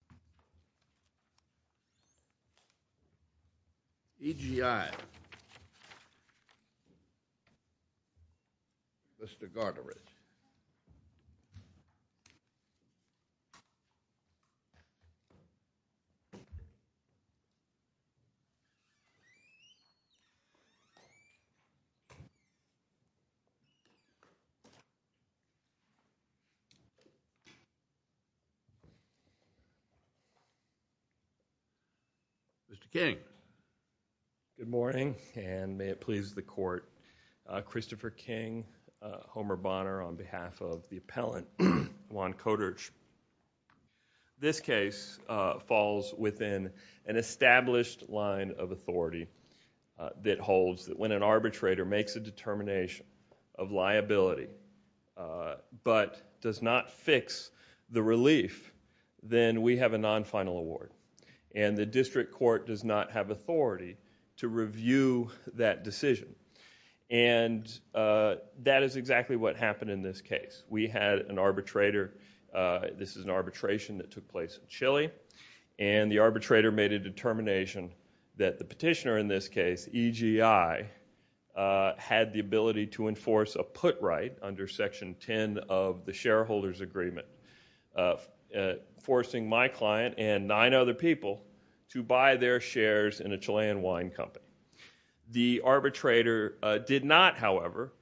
EGI-VSR, LLC v. Juan Carlos Celestin Mitjans Good morning, and may it please the Court. Christopher King, Homer Bonner on behalf of the appellant, Juan Koturch. This case falls within an established line of authority that holds that when an arbitrator makes a determination of liability but does not fix the relief, then we have a non-final award, and the district court does not have authority to review that decision. And that is exactly what happened in this case. We had an arbitrator, this is an arbitration that took place in Chile, and the arbitrator made a determination that the petitioner in this case, EGI, had the ability to enforce a put right under Section 10 of the Shareholders Agreement, forcing my client and nine other people to buy their shares in a Chilean wine company. The arbitrator did not, however,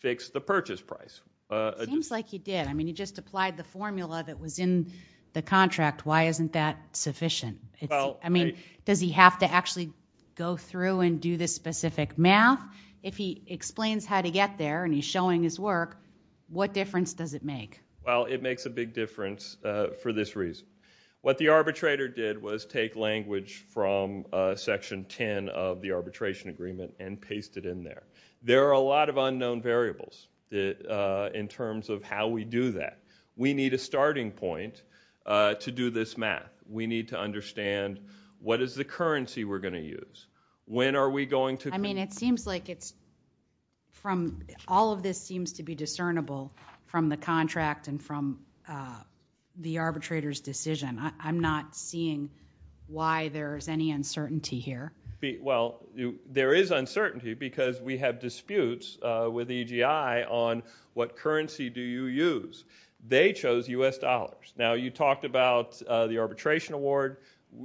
fix the purchase price. It seems like he did. I mean, he just applied the formula that was in the contract. Why isn't that sufficient? I mean, does he have to actually go through and do the specific math? If he explains how to get there and he's showing his work, what difference does it make? Well, it makes a big difference for this reason. What the arbitrator did was take language from Section 10 of the Arbitration Agreement and paste it in there. There are a lot of unknown variables in terms of how we do that. We need a starting point to do this math. We need to understand what is the currency we're going to use? When are we going to? I mean, it seems like it's from all of this seems to be discernible from the contract and from the arbitrator's decision. I'm not seeing why there's any uncertainty here. Well, there is uncertainty because we have disputes with EGI on what currency do you use. They chose U.S. dollars. Now, you talked about the Arbitration Award.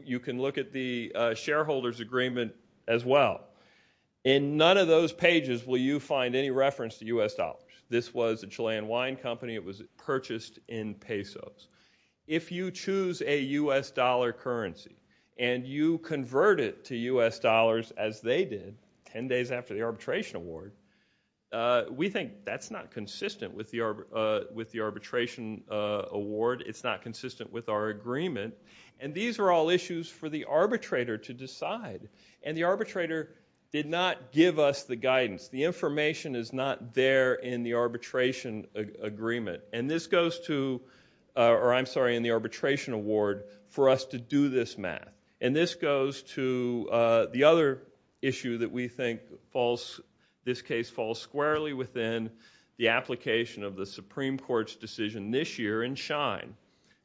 You can look at the shareholder's agreement as well. In none of those pages will you find any reference to U.S. dollars. This was a Chilean wine company. It was purchased in pesos. If you choose a U.S. dollar currency and you convert it to U.S. dollars as they did ten days after the Arbitration Award, we think that's not consistent with the Arbitration Award. It's not consistent with our agreement. These are all issues for the arbitrator to decide. The arbitrator did not give us the guidance. The information is not there in the Arbitration Award for us to do this math. This goes to the other issue that we think this case falls squarely within the application of the Supreme Court's decision this year in Schein,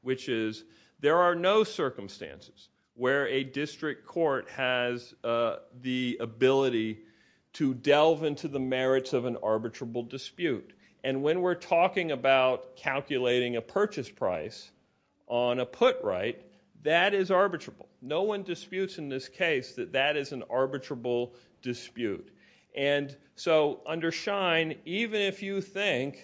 which is there are no circumstances where a district court has the ability to delve into the merits of an arbitrable dispute. When we're talking about calculating a purchase price on a put right, that is arbitrable. No one disputes in this case that that is an arbitrable dispute. And so under Schein, even if you think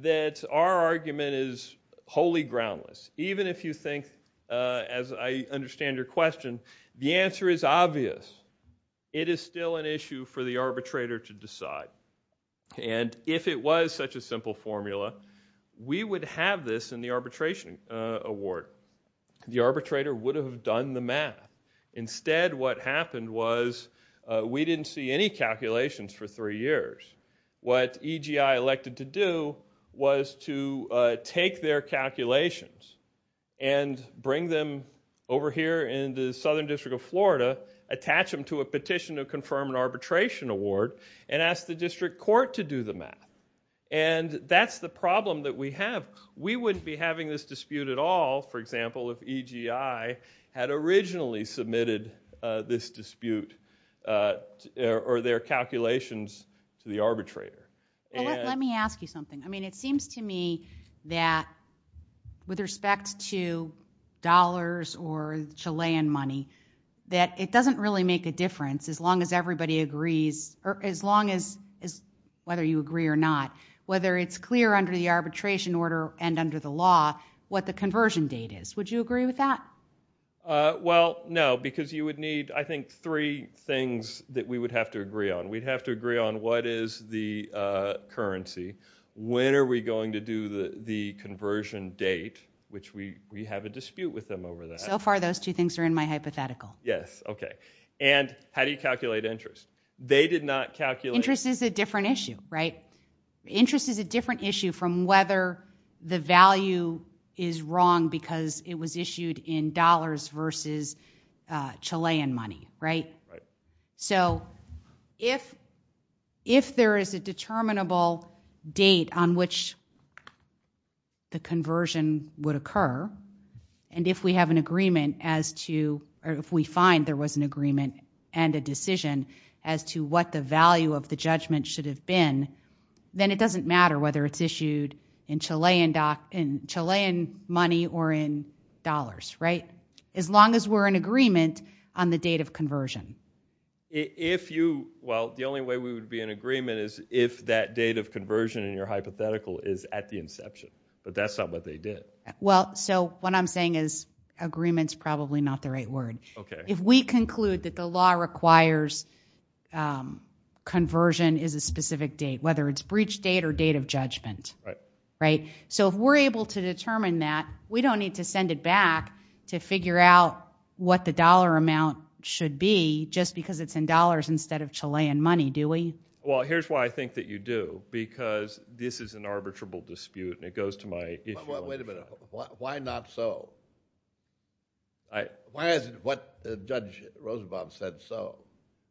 that our argument is wholly groundless, even if you think, as I understand your question, the answer is obvious, it is still an issue for the arbitrator to decide. And if it was such a simple formula, we would have this in the Arbitration Award. The arbitrator would have done the math. Instead, what happened was we didn't see any calculations for three years. What EGI elected to do was to take their calculations and bring them over here in the Southern District of Florida, attach them to a petition to confirm an Arbitration Award, and ask the district court to do the math. And that's the problem that we have. We wouldn't be having this dispute at all, for example, if EGI had originally submitted this dispute or their calculations to the arbitrator. Well, let me ask you something. I mean, it seems to me that with respect to dollars or Chilean money, that it doesn't really make a difference as long as everybody agrees, as long as, whether you agree or not, whether it's clear under the arbitration order and under the law, what the conversion date is. Would you agree with that? Well, no, because you would need, I think, three things that we would have to agree on. We'd have to agree on what is the currency, when are we going to do the conversion date, which we have a dispute with them over that. So far, those two things are in my hypothetical. Yes, okay. And how do you calculate interest? They did not calculate... Interest is a different issue, right? Interest is a different issue from whether the value is wrong because it was issued in dollars versus Chilean money, right? If there is a determinable date on which the conversion would occur, and if we have an agreement as to, or if we find there was an agreement and a decision as to what the value of the judgment should have been, then it doesn't matter whether it's issued in Chilean money or in dollars, right? As long as we're in agreement on the date of conversion. If you, well, the only way we would be in agreement is if that date of conversion in your hypothetical is at the inception, but that's not what they did. Well, so what I'm saying is agreement's probably not the right word. If we conclude that the law requires conversion is a specific date, whether it's breach date or date of judgment, right? So if we're able to determine that, we don't need to send it back to figure out what the dollar amount should be just because it's in dollars instead of Chilean money, do we? Well, here's why I think that you do, because this is an arbitrable dispute, and it goes to my issue. Wait a minute. Why not so? Why is it what Judge Rosenbaum said so?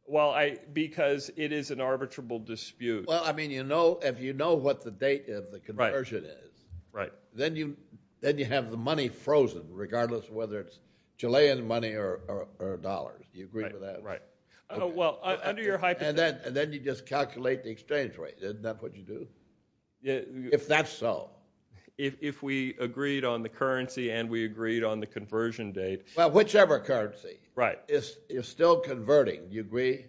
Well, I, because it is an arbitrable dispute. Well, I mean, you know, if you know what the date of the conversion is, then you have the money frozen regardless of whether it's Chilean money or dollars. Do you agree with that? Right, well, under your hypothesis. And then you just calculate the exchange rate. Isn't that what you do? If that's so. If we agreed on the currency and we agreed on the conversion date. Well, whichever currency is still converting, do you agree?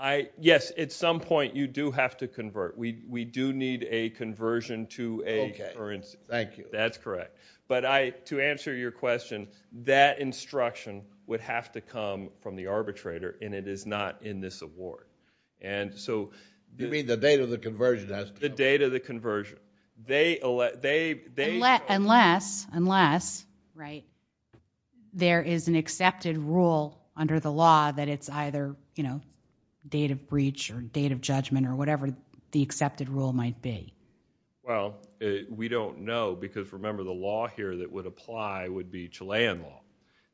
I, yes, at some point you do have to convert. We do need a conversion to a currency. Okay, thank you. That's correct. But I, to answer your question, that instruction would have to come from the arbitrator, and it is not in this award. You mean the date of the conversion has to come? The date of the conversion. Unless, right, there is an accepted rule under the law that it's either, you know, date of breach or date of judgment or whatever the accepted rule might be. Well, we don't know, because remember the law here that would apply would be Chilean law.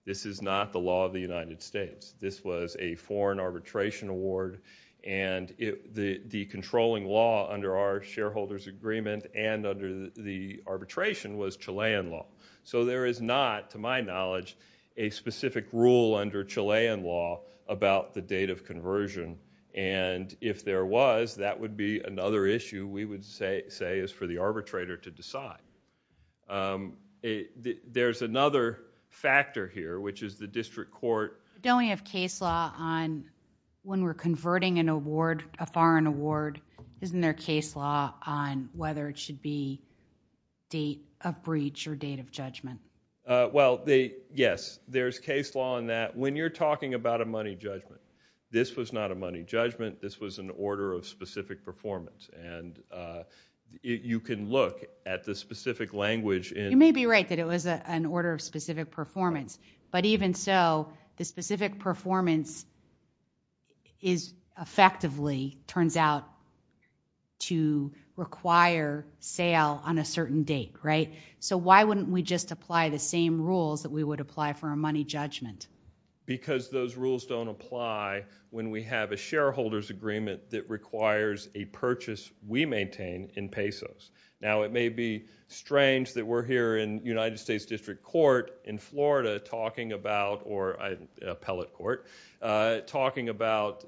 This is not the law of the United States. This was a foreign arbitration award, and the controlling law under our shareholders' agreement and under the arbitration was Chilean law. So there is not, to my knowledge, a specific rule under Chilean law about the date of conversion. And if there was, that would be another issue we would say is for the arbitrator to decide. There's another factor here, which is the district court. Don't we have case law on when we're converting an award, a foreign award, isn't there case law on whether it should be date of breach or date of judgment? Well, yes, there's case law on that. When you're talking about a money judgment, this was not a money judgment. This was an order of specific performance. And you can look at the specific language in... Specific performance effectively turns out to require sale on a certain date, right? So why wouldn't we just apply the same rules that we would apply for a money judgment? Because those rules don't apply when we have a shareholders' agreement that requires a purchase we maintain in pesos. Now, it may be strange that we're here in Appellate Court talking about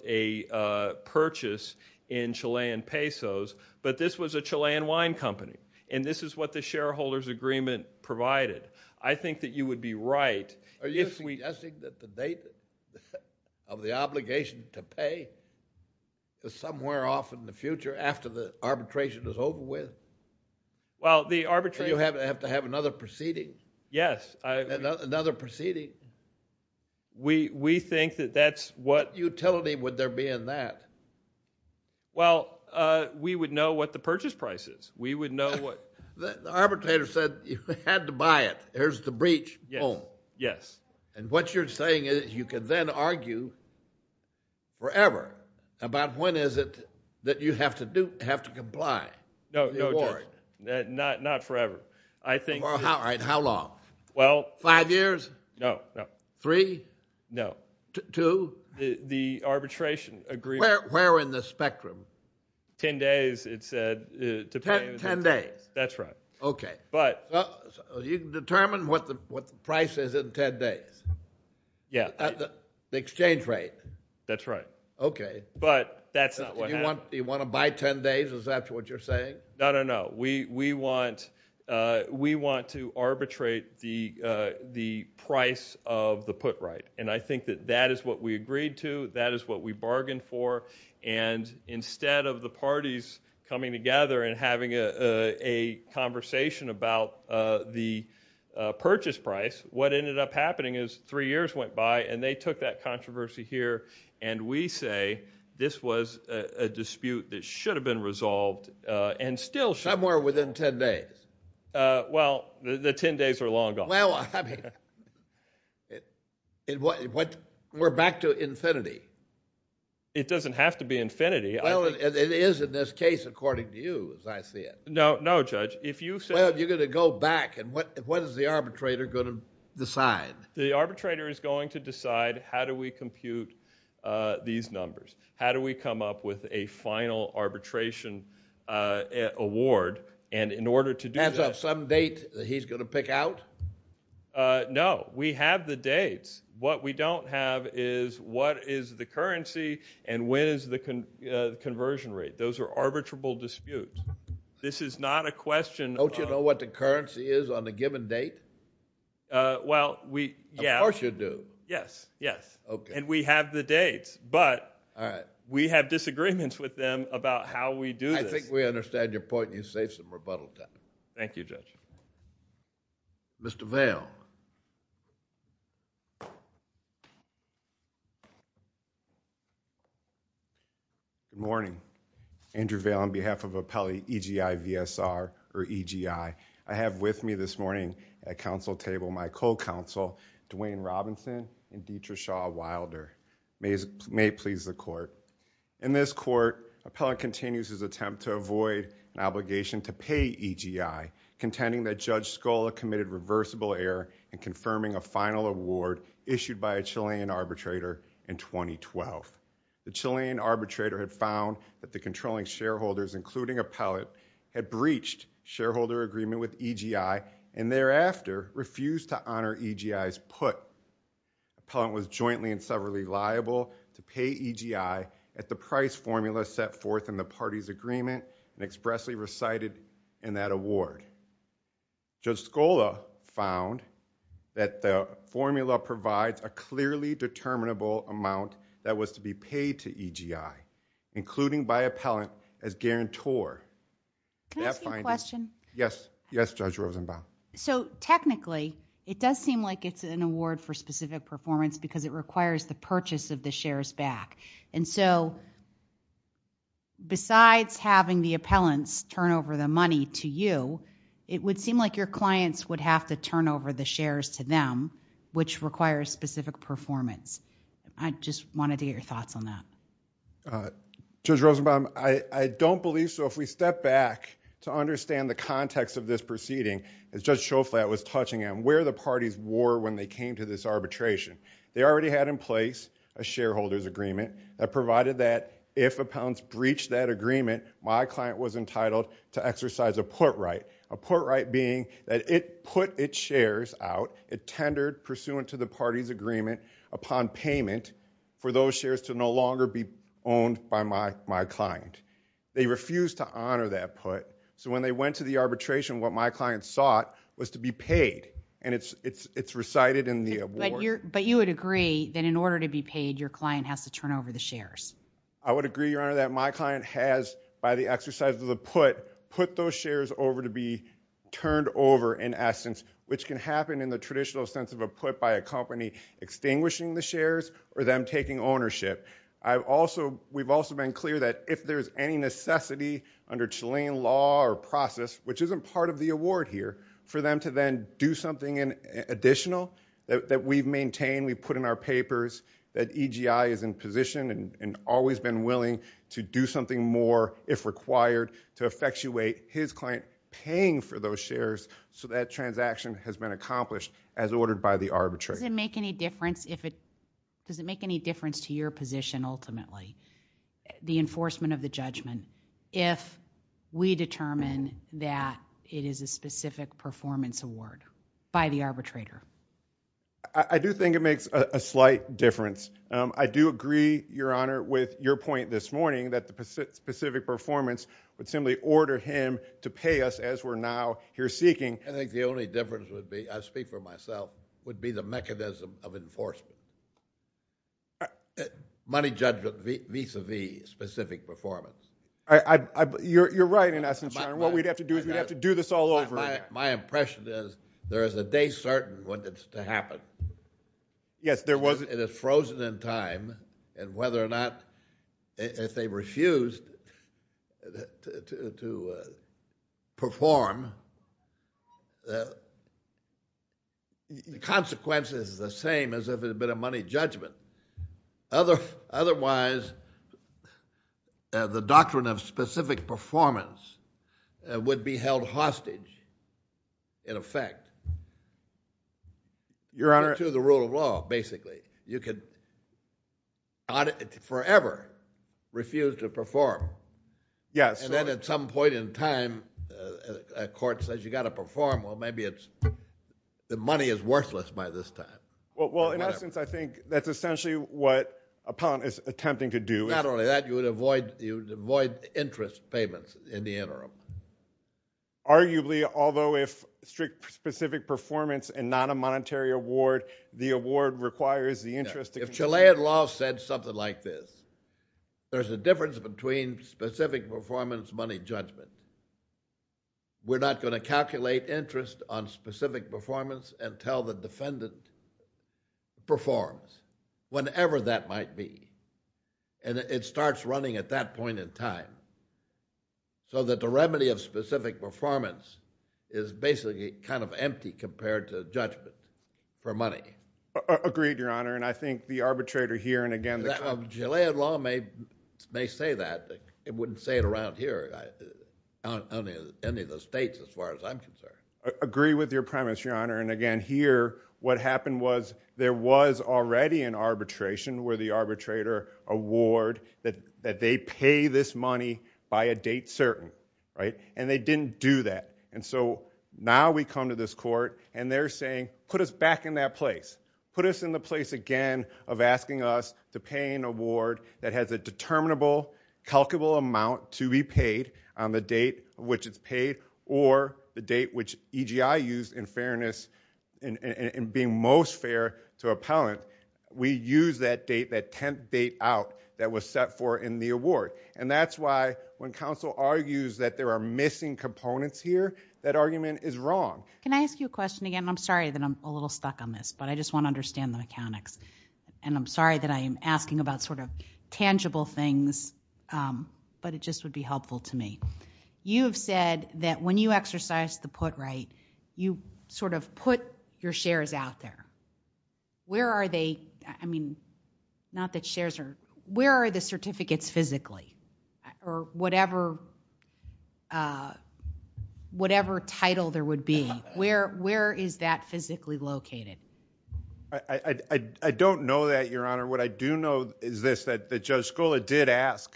a purchase in Chilean pesos, but this was a Chilean wine company. And this is what the shareholders' agreement provided. I think that you would be right... Are you suggesting that the date of the obligation to pay is somewhere off in the future, after the arbitration is over with? Well, the arbitration... Do you have to have another proceeding? Yes, I... Another proceeding? We think that that's what... What utility would there be in that? Well, we would know what the purchase price is. We would know what... The arbitrator said you had to buy it. Here's the breach. Boom. Yes. And what you're saying is you can then argue forever about when is it that you have to comply. No, no, not forever. I think... All right, how long? Five years? No, no. Three? No. Two? The arbitration agreement... Where in the spectrum? Ten days, it said. Ten days? That's right. Okay. But... You can determine what the price is in ten days? Yeah. The exchange rate? That's right. Okay. But that's not what happened. You want to buy ten days? Is that what you're saying? No, no, no. We want to arbitrate the price of the put right. And I think that that is what we agreed to. That is what we bargained for. And instead of the parties coming together and having a conversation about the purchase price, what ended up happening is three years went by and they took that controversy here and we say this was a dispute that should have been resolved and still should... Somewhere within ten days? Well, the ten days are long gone. Well, I mean, we're back to infinity. It doesn't have to be infinity. Well, it is in this case according to you, as I see it. No, no, Judge. Well, you're going to go back and what is the arbitrator going to decide? The arbitrator is going to decide how do we compute these numbers? How do we come up with a final arbitration award? And in order to do that... As of some date that he's going to pick out? No, we have the dates. What we don't have is what is the currency and when is the conversion rate. Those are arbitrable disputes. This is not a question of... Don't you know what the currency is on a given date? Well, we... Of course you do. Yes, yes. Okay. And we have the dates, but... We have disagreements with them about how we do this. I think we understand your point and you saved some rebuttal time. Thank you, Judge. Mr. Vail. Good morning. Andrew Vail on behalf of Appellee EGI VSR or EGI. I have with me this morning at council table my co-counsel, Dwayne Robinson and Deitra Shaw Wilder. May it please the court. In this court, appellant continues his attempt to avoid an obligation to pay EGI, contending that Judge Scola committed reversible error in confirming a final award issued by a Chilean arbitrator in 2012. The Chilean arbitrator had found that the controlling shareholders, including appellant, had breached shareholder agreement with EGI and thereafter refused to honor EGI's put. Appellant was jointly and severally liable to pay EGI at the price formula set forth in the party's agreement and expressly recited in that award. Judge Scola found that the formula provides a clearly determinable amount that was to be paid to EGI, including by appellant as guarantor. Can I ask you a question? Yes. Yes, Judge Rosenbaum. So, technically, it does seem like it's an award for specific performance because it requires the purchase of the shares back. And so, besides having the appellants turn over the money to you, it would seem like your clients would have to turn over the shares to them, which requires specific performance. I just wanted to get your thoughts on that. Judge Rosenbaum, I don't believe so. If we step back to understand the context of this proceeding, as Judge Schoflat was touching on, where the parties were when they came to this arbitration. They already had in place a shareholder's agreement that provided that if appellants breached that agreement, my client was entitled to exercise a put right. A put right being that it put its shares out, it tendered pursuant to the party's agreement upon payment for those shares to no longer be owned by my client. They refused to honor that put. So, when they went to the arbitration, what my client sought was to be paid. And it's recited in the award. But you would agree that in order to be paid, your client has to turn over the shares? I would agree, Your Honor, that my client has, by the exercise of the put, put those shares over to be turned over in essence, which can happen in the traditional sense of a put by a company extinguishing the shares or them taking ownership. We've also been clear that if there's any necessity under Chilean law or process, which isn't part of the award here, for them to then do something additional that we've maintained, we've put in our papers, that EGI is in position and always been willing to do something more if required to effectuate his client paying for those shares so that transaction has been accomplished as ordered by the arbitrator. Does it make any difference to your position ultimately, the enforcement of the judgment, if we determine that it is a specific performance award by the arbitrator? I do think it makes a slight difference. I do agree, Your Honor, with your point this morning that the specific performance would simply order him to pay us as we're now here seeking. I think the only difference would be, I speak for myself, would be the mechanism of enforcement. Money judgment vis-a-vis specific performance. You're right in essence, Your Honor. What we'd have to do is we'd have to do this all over again. My impression is there is a day certain when it's to happen. Yes, there was. It is frozen in time, and whether or not, if they refused to perform, the consequence is the same as if it had been a money judgment. Otherwise, the doctrine of specific performance would be held hostage in effect. Your Honor. To the rule of law, basically. You could forever refuse to perform. Yes. Then at some point in time, a court says you got to perform. Well, maybe the money is worthless by this time. In essence, I think that's essentially what Appellant is attempting to do. Not only that, you would avoid interest payments in the interim. Arguably, although if specific performance and not a monetary award, the award requires the interest. If Chilean law said something like this, there's a difference between specific performance, money judgment. We're not going to calculate interest on specific performance until the defendant performs. Whenever that might be. And it starts running at that point in time. So that the remedy of specific performance is basically kind of empty compared to judgment for money. Agreed, Your Honor. And I think the arbitrator here and again... Chilean law may say that. It wouldn't say it around here. Not in any of the states as far as I'm concerned. Agree with your premise, Your Honor. And again, here, what happened was there was already an arbitration where the arbitrator award that they pay this money by a date certain. And they didn't do that. And so now we come to this court and they're saying, put us back in that place. Put us in the place again of asking us to pay an award that has a determinable calculable amount to be paid on the date which it's paid or the date which EGI used in fairness in being most fair to appellant. We use that date, that 10th date out that was set for in the award. And that's why when counsel argues that there are missing components here, that argument is wrong. Can I ask you a question again? I'm sorry that I'm a little stuck on this. But I just want to understand the mechanics. And I'm sorry that I'm asking about sort of tangible things. But it just would be helpful to me. You have said that when you exercise the put right, you sort of put your shares out there. Where are they? I mean, not that shares are. Where are the certificates physically? Or whatever whatever title there would be. Where is that physically located? I don't know that, Your Honor. What I do know is this, that Judge Skoula did ask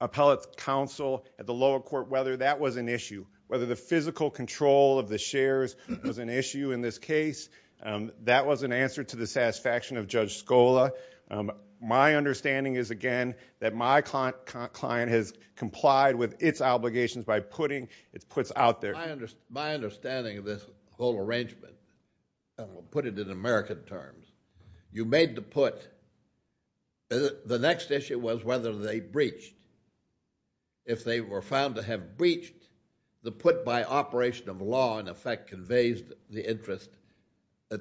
appellate counsel at the lower court whether that was an issue. Whether the physical control of the shares was an issue in this case. That was an answer to the satisfaction of Judge Skoula. My understanding is again that my client has complied with its obligations by putting its puts out there. My understanding of this whole arrangement, put it in American terms, you made the put. The next issue was whether they breached. If they were found to have breached, the put by operation of law in effect conveys the interest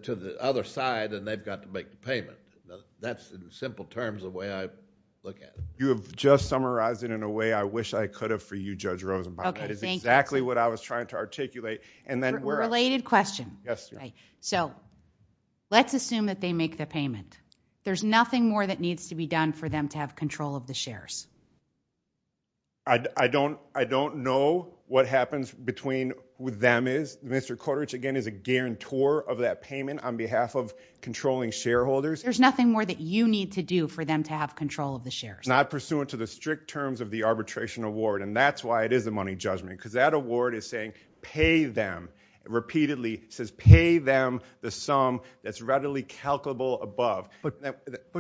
to the other side and they've got to make the payment. That's in simple terms the way I look at it. You have just summarized it in a way I wish I could have for you, Judge Rosenbaum. That is exactly what I was trying to articulate. Related question. Let's assume that they make the payment. There's nothing more that needs to be done for them to have control of the shares. I don't know what happens between who them is. Mr. Kodich again is a guarantor of that payment on behalf of controlling shareholders. There's nothing more that you need to do for them to have control of the shares. Not pursuant to the strict terms of the arbitration award and that's why it is a money judgment. That award is saying pay them. Repeatedly says pay them the sum that's readily calculable above.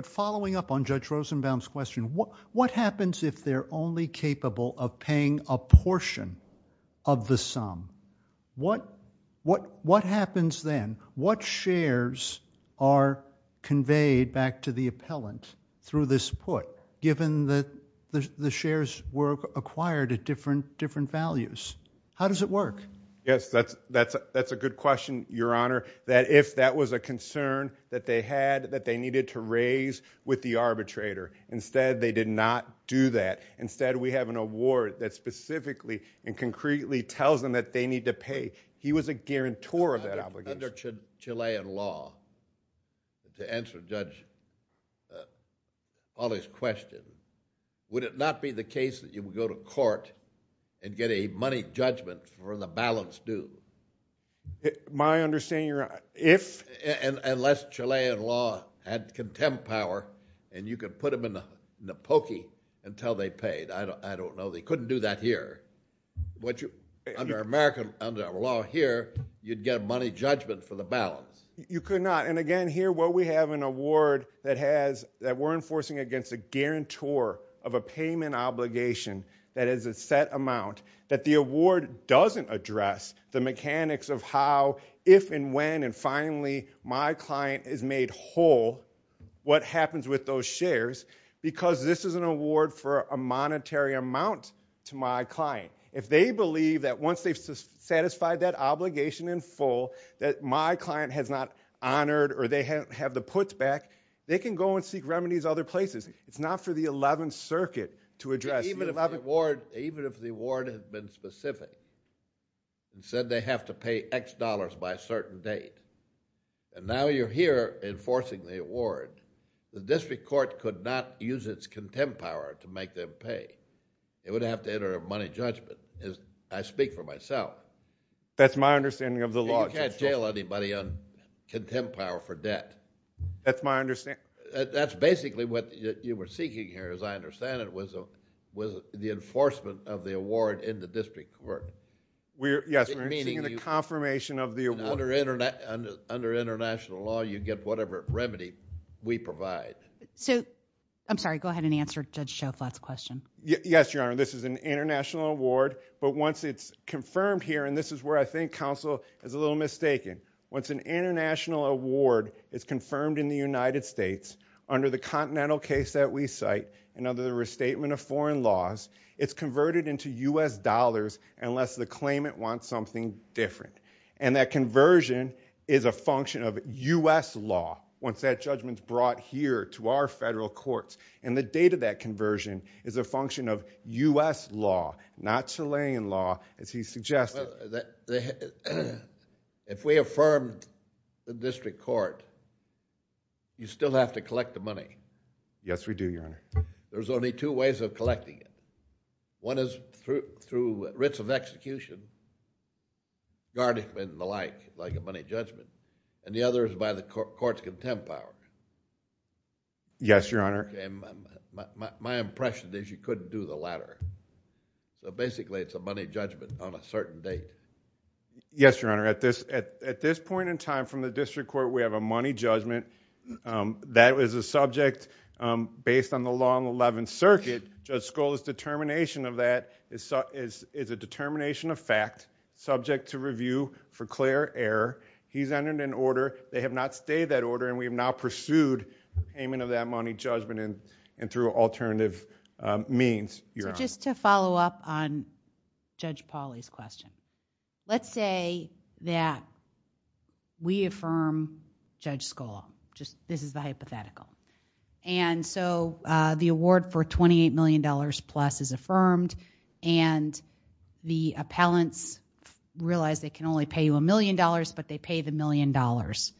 Following up on Judge Rosenbaum's question, what happens if they're only capable of paying a portion of the sum? What happens then? What shares are conveyed back to the appellant through this put given that the shares were acquired at different values? How does it work? Yes, that's a good question, Your Honor. That if that was a concern that they had that they needed to raise with the arbitrator. Instead, they did not do that. Instead, we have an award that specifically and concretely tells them that they need to pay. He was a guarantor of that obligation. Under Chilean law, to answer Judge Pauli's question, would it not be the case that you would go to court and get a money judgment for the balance due? My understanding, Your Honor, if... Unless Chilean law had contempt power and you could put them in the pokey until they paid. I don't know. They couldn't do that here. Under American law here, you'd get a money judgment for the balance. You could not. Again, here what we have, an award that we're enforcing against a guarantor of a set amount that the award doesn't address the mechanics of how, if, and when, and finally, my client is made whole, what happens with those shares because this is an award for a monetary amount to my client. If they believe that once they've satisfied that obligation in full that my client has not honored or they have the puts back, they can go and seek remedies other places. It's not for the 11th Circuit to address... Even if the award has been specific and said they have to pay X dollars by a certain date and now you're here enforcing the award, the district court could not use its contempt power to make them pay. It would have to enter a money judgment. I speak for myself. That's my understanding of the law. You can't jail anybody on contempt power for debt. That's my understanding. That's basically what you were seeking here, as I understand it, was the enforcement of the award in the district court. Yes, we're seeking a confirmation of the award. Under international law, you get whatever remedy we provide. I'm sorry, go ahead and answer Judge Schoflat's question. Yes, Your Honor, this is an international award but once it's confirmed here, and this is where I think counsel is a little mistaken, once an international award is confirmed in the United States under the continental case that we cite and under the restatement of foreign laws, it's converted into U.S. dollars unless the claimant wants something different and that conversion is a function of U.S. law once that judgment is brought here to our federal courts and the date of that conversion is a function of U.S. law, not Chilean law as he suggested. If we affirm the district court, you still have to collect the money. Yes, we do, Your Honor. There's only two ways of collecting it. One is through writs of execution, guarding and the like, like a money judgment, and the other is by the court's contempt power. Yes, Your Honor. My impression is you couldn't do the latter. So basically, it's a money judgment on a certain date. Yes, Your Honor. At this point in time, from the district court, we have a money judgment. That is a subject based on the long 11th circuit. Judge Scola's determination of that is a determination of fact subject to review for clear error. He's entered an order. They have not stayed that order and we have now pursued payment of that money judgment and through alternative means, Your Honor. So just to follow up on Judge Pauly's question. Let's say that we affirm Judge Scola. This is the hypothetical. And so the award for $28 million plus is affirmed and the appellants realize they can only pay you a million dollars but they pay the million dollars.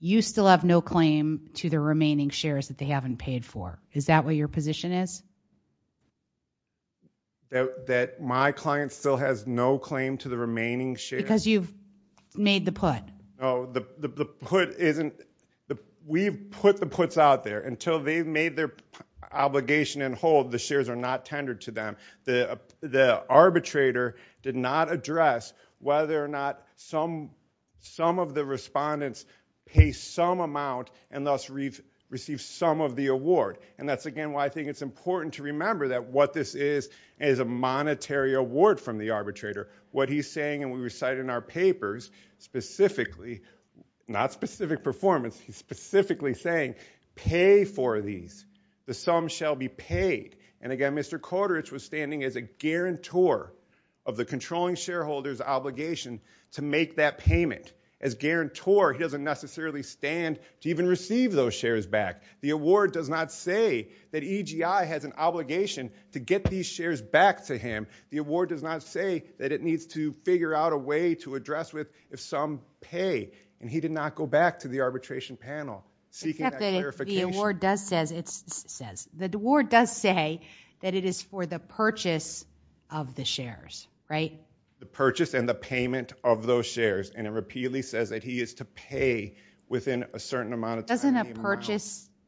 You still have no claim to the remaining shares that they haven't paid for. Is that what your position is? That my client still has no claim to the remaining shares? Because you've made the put. We've put the puts out there. Until they've made their obligation and hold, the shares are not tendered to them. The arbitrator did not address whether or not some of the respondents pay some amount and thus receive some of the award. And that's again why I think it's important to remember that what this is is a monetary award from the arbitrator. What he's saying, and we recited in our papers, specifically not specific performance he's specifically saying pay for these. The sum shall be paid. And again Mr. Korderich was standing as a guarantor of the controlling shareholders obligation to make that payment. As guarantor he doesn't necessarily stand to even receive those shares back. The award does not say that EGI has an obligation to get these shares back to him. The award does not say that it needs to figure out a way to address with if some pay. And he did not go back to the arbitration panel. The award does say that it is for the purchase of the shares. The purchase and the payment of those shares. And it repeatedly says that he is to pay within a certain amount of time.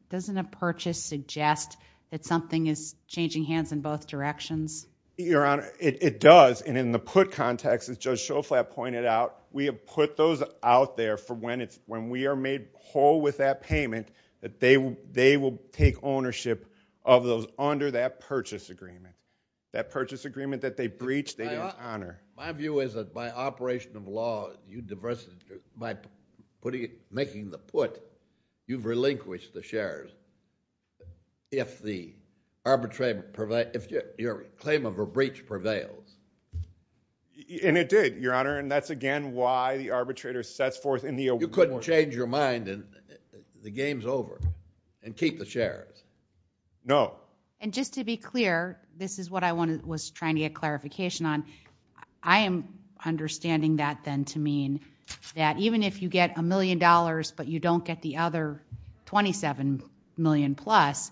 Doesn't a purchase suggest that something is changing hands in both directions? Your Honor, it does. And in the put context, as Judge Shoflat pointed out, we have put those out there for when we are made whole with that payment, that they will take ownership of those under that purchase agreement. That purchase agreement that they breached, they don't honor. My view is that by operation of law, you divested, by putting making the put, you've relinquished the shares. If the claim of a breach prevails. And it did, Your Honor. And that's again why the arbitrator sets forth in the award. You couldn't change your mind and the game's over. And keep the shares. No. And just to be clear, this is what I was trying to get clarification on. I am understanding that then to mean that even if you get a million dollars but you don't get the other 27 million plus,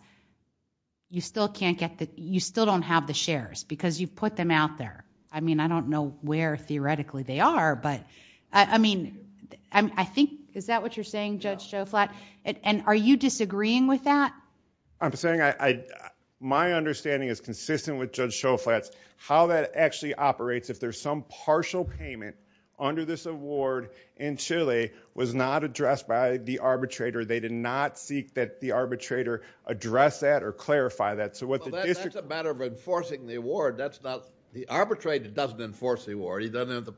you still can't get the, you still don't have the shares because you put them out there. I mean, I don't know where theoretically they are but, I mean, I think, is that what you're saying, Judge Shoflat? And are you disagreeing with that? I'm saying I my understanding is consistent with Judge Shoflat's, how that actually operates if there's some partial payment under this award in Chile was not addressed by the arbitrator. They did not seek that the arbitrator address that or clarify that. So what the district Well, that's a matter of enforcing the award. That's not, the arbitrator doesn't enforce the award. He doesn't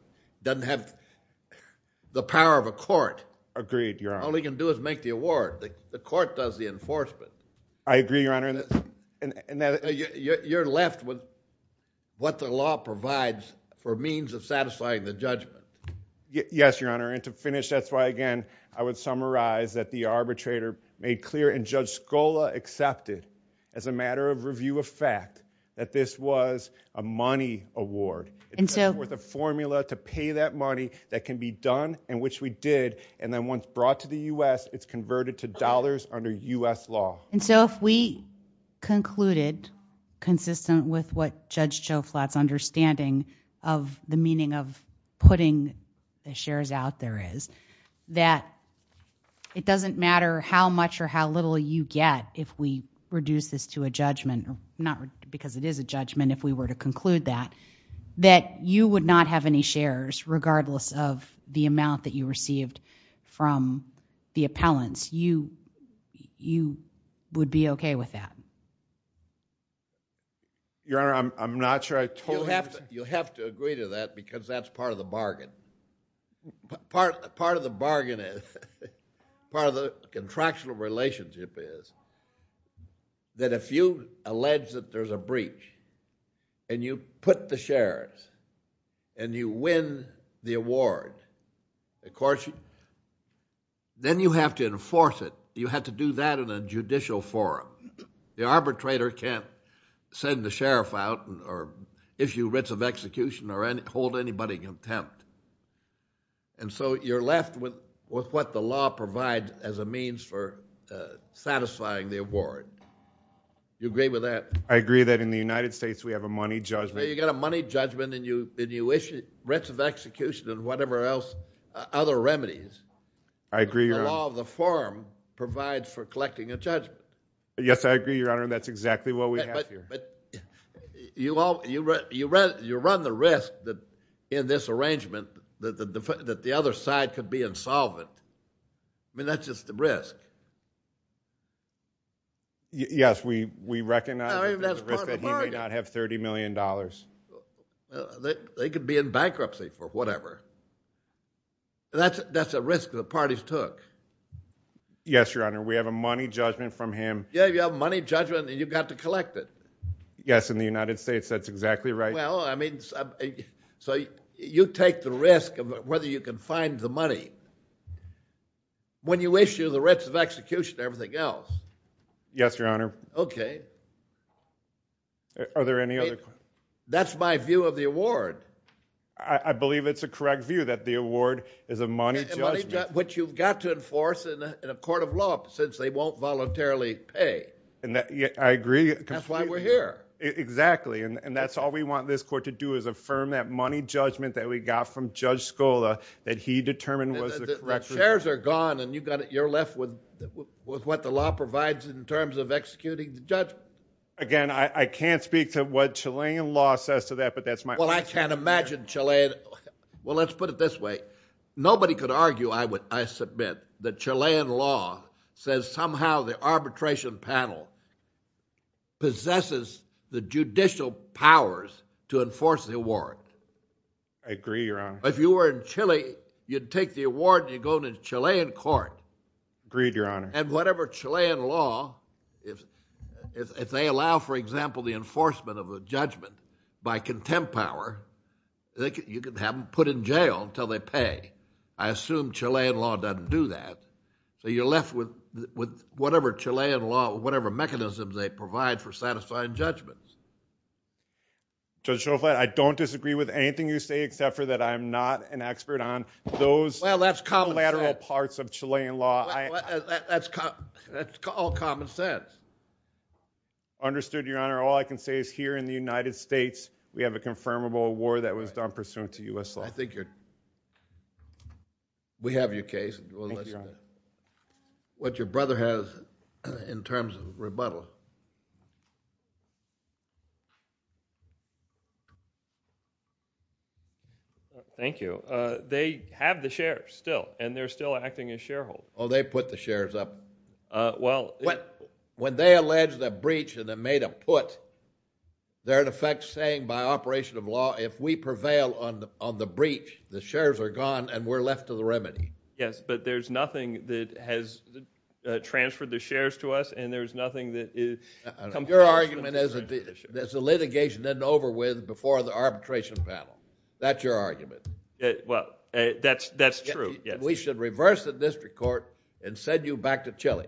have the power of a court. Agreed, Your Honor. All he can do is make the award. The court does the enforcement. I agree, Your Honor. You're left with what the law provides for means of satisfying the judgment. Yes, Your Honor. And to finish, that's why, again, I would summarize that the arbitrator made clear and Judge Scola accepted as a matter of review of fact that this was a money award. And so with a formula to pay that money that can be done and which we did and then once brought to the U.S. it's converted to dollars under U.S. law. And so if we concluded consistent with what Judge Shoflat's understanding of the meaning of putting the shares out there is, that it doesn't matter how much or how little you get if we reduce this to a judgment, not because it is a judgment if we were to conclude that, that you would not have any shares regardless of the amount that you received from the appellants. You would be okay with that. Your Honor, I'm not sure I totally understand. You have to agree to that because that's part of the bargain. Part of the bargain is, part of the contractual relationship is that if you allege that there's a breach and you put the shares and you win the award of course then you have to enforce it. You have to do that in a judicial forum. The arbitrator can't send the sheriff out or issue writs of execution or hold anybody contempt. You're left with what the law provides as a means for satisfying the award. Do you agree with that? I agree that in the United States we have a money judgment. You got a money judgment and you issue writs of execution and whatever else, other remedies. I agree, Your Honor. The law of the forum provides for collecting a judgment. Yes, I agree, Your Honor. That's exactly what we have here. You run the risk that in this arrangement that the other side could be insolvent. That's just the risk. Yes, we recognize that he may not have $30 million. They could be in bankruptcy for whatever. That's a risk the parties took. Yes, Your Honor. We have a money judgment from him. You have a money judgment and you've got to collect it. Yes, in the United States. That's exactly right. You take the risk of whether you can find the money when you issue the writs of execution and everything else. Yes, Your Honor. Are there any other questions? That's my view of the award. I believe it's a correct view that the award is a money judgment. Which you've got to enforce in a court of law since they won't voluntarily pay. I agree. That's why we're here. Exactly. That's all we want this court to do is affirm that money judgment that we got from Judge Scola that he determined was the correct... The chairs are gone and you're left with what the law provides in terms of executing the judgment. Again, I can't speak to what Chilean law says to that but that's my opinion. Well, I can't imagine Chilean... Well, let's put it this way. Nobody could argue, I submit, that Chilean law says somehow the arbitration panel possesses the judicial powers to enforce the award. I agree, Your Honor. If you were in Chile, you'd take the award and you'd go to the Chilean court. Agreed, Your Honor. And whatever Chilean law, if they allow, for example, the enforcement of a judgment by contempt power, you could have them put in jail until they pay. I assume Chilean law doesn't do that. So you're left with whatever Chilean law, whatever mechanisms they provide for satisfying judgments. Judge Schofield, I don't disagree with anything you say except for that I'm not an expert on those collateral parts of Chilean law. That's all common sense. Understood, Your Honor. All I can say is here in the United States, we have a confirmable award that was done pursuant to U.S. law. We have your case. Thank you, Your Honor. What your brother has in terms of rebuttal. Thank you. They have the shares still and they're still acting as shareholders. Oh, they put the shares up. When they allege the breach and they made a put, they're in effect saying by operation of law, if we prevail on the breach, the shares are gone and we're left to the remedy. Yes, but there's nothing that has transferred the shares to us and there's nothing that Your argument is that the litigation isn't over with before the arbitration panel. That's your argument. Well, that's true. We should reverse the district court and send you back to Chile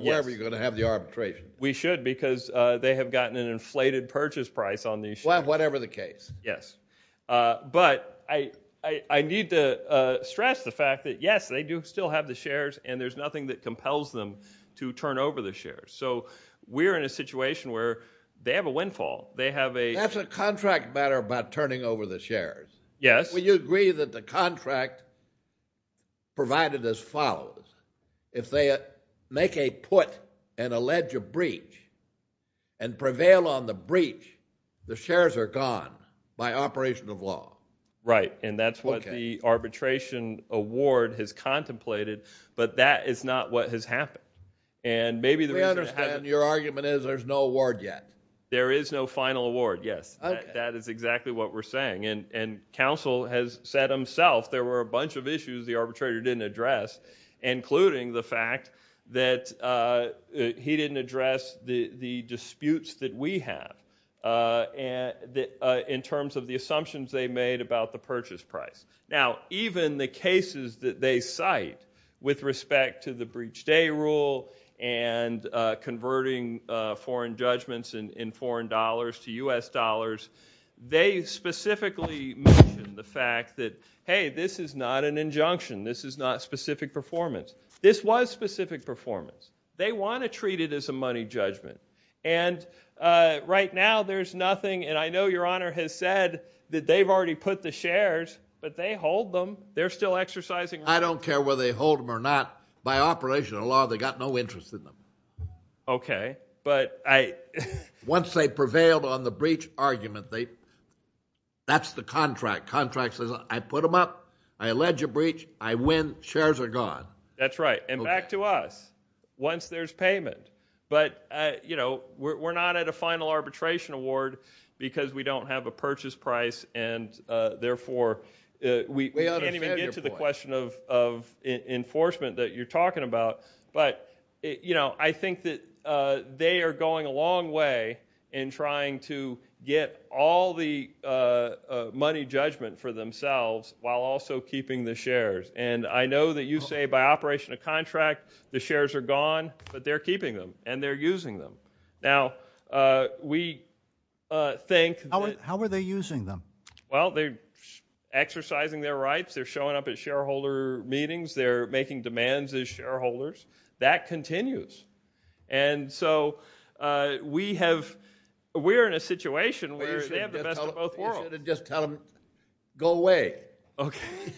wherever you're going to have the arbitration. We should because they have gotten an inflated purchase price on these shares. Whatever the case. But I need to stress the fact that yes, they do still have the shares and there's nothing that compels them to turn over the shares. So we're in a situation where they have a windfall. That's a contract matter about turning over the shares. Would you agree that the contract provided as follows? If they make a put and allege a breach and prevail on the breach, the shares are gone by operation of law. Right, and that's what the arbitration award has contemplated, but that is not what has happened. Your argument is there's no award yet. There is no final award, yes. That is exactly what we're saying. And counsel has said himself there were a bunch of issues the arbitrator didn't address, including the fact that he didn't address the disputes that we have in terms of the assumptions they made about the purchase price. Now, even the cases that they cite with respect to the breach day rule and converting foreign judgments in foreign dollars to U.S. dollars, they specifically mention the fact that, hey, this is not an injunction. This is not specific performance. This was specific performance. They want to treat it as a money judgment. And right now there's nothing, and I know Your Honor has said that they've already put the shares, but they hold them. They're still exercising... I don't care whether they hold them or not. By operation of law, they got no interest in them. Okay, but I... Once they prevailed on the that's the contract. Contract says I put them up, I allege a breach, I win, shares are gone. That's right. And back to us. Once there's payment. But we're not at a final arbitration award because we don't have a purchase price and therefore we can't even get to the question of enforcement that you're talking about. But I think that they are going a long way in trying to get all the money judgment for themselves while also keeping the shares. And I know that you say by operation of contract, the shares are gone, but they're keeping them, and they're using them. Now, we think... How are they using them? Well, they're exercising their rights. They're showing up at shareholder meetings. They're making demands as shareholders. That continues. And so, we have... We're in a situation where they have the best of both worlds. You should have just told them, go away.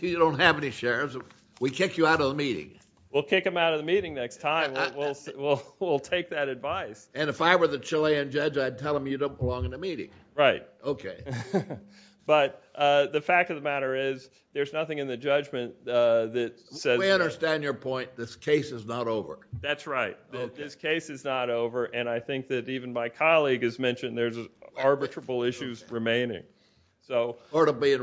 You don't have any shares. We kick you out of the meeting. We'll kick them out of the meeting next time. We'll take that advice. And if I were the Chilean judge, I'd tell them you don't belong in the meeting. Right. Okay. But the fact of the matter is, there's nothing in the judgment that says... We understand your point. This case is not over. That's right. This case is not over, and I think that even my colleague has mentioned there's arbitrable issues remaining. Or to be in recess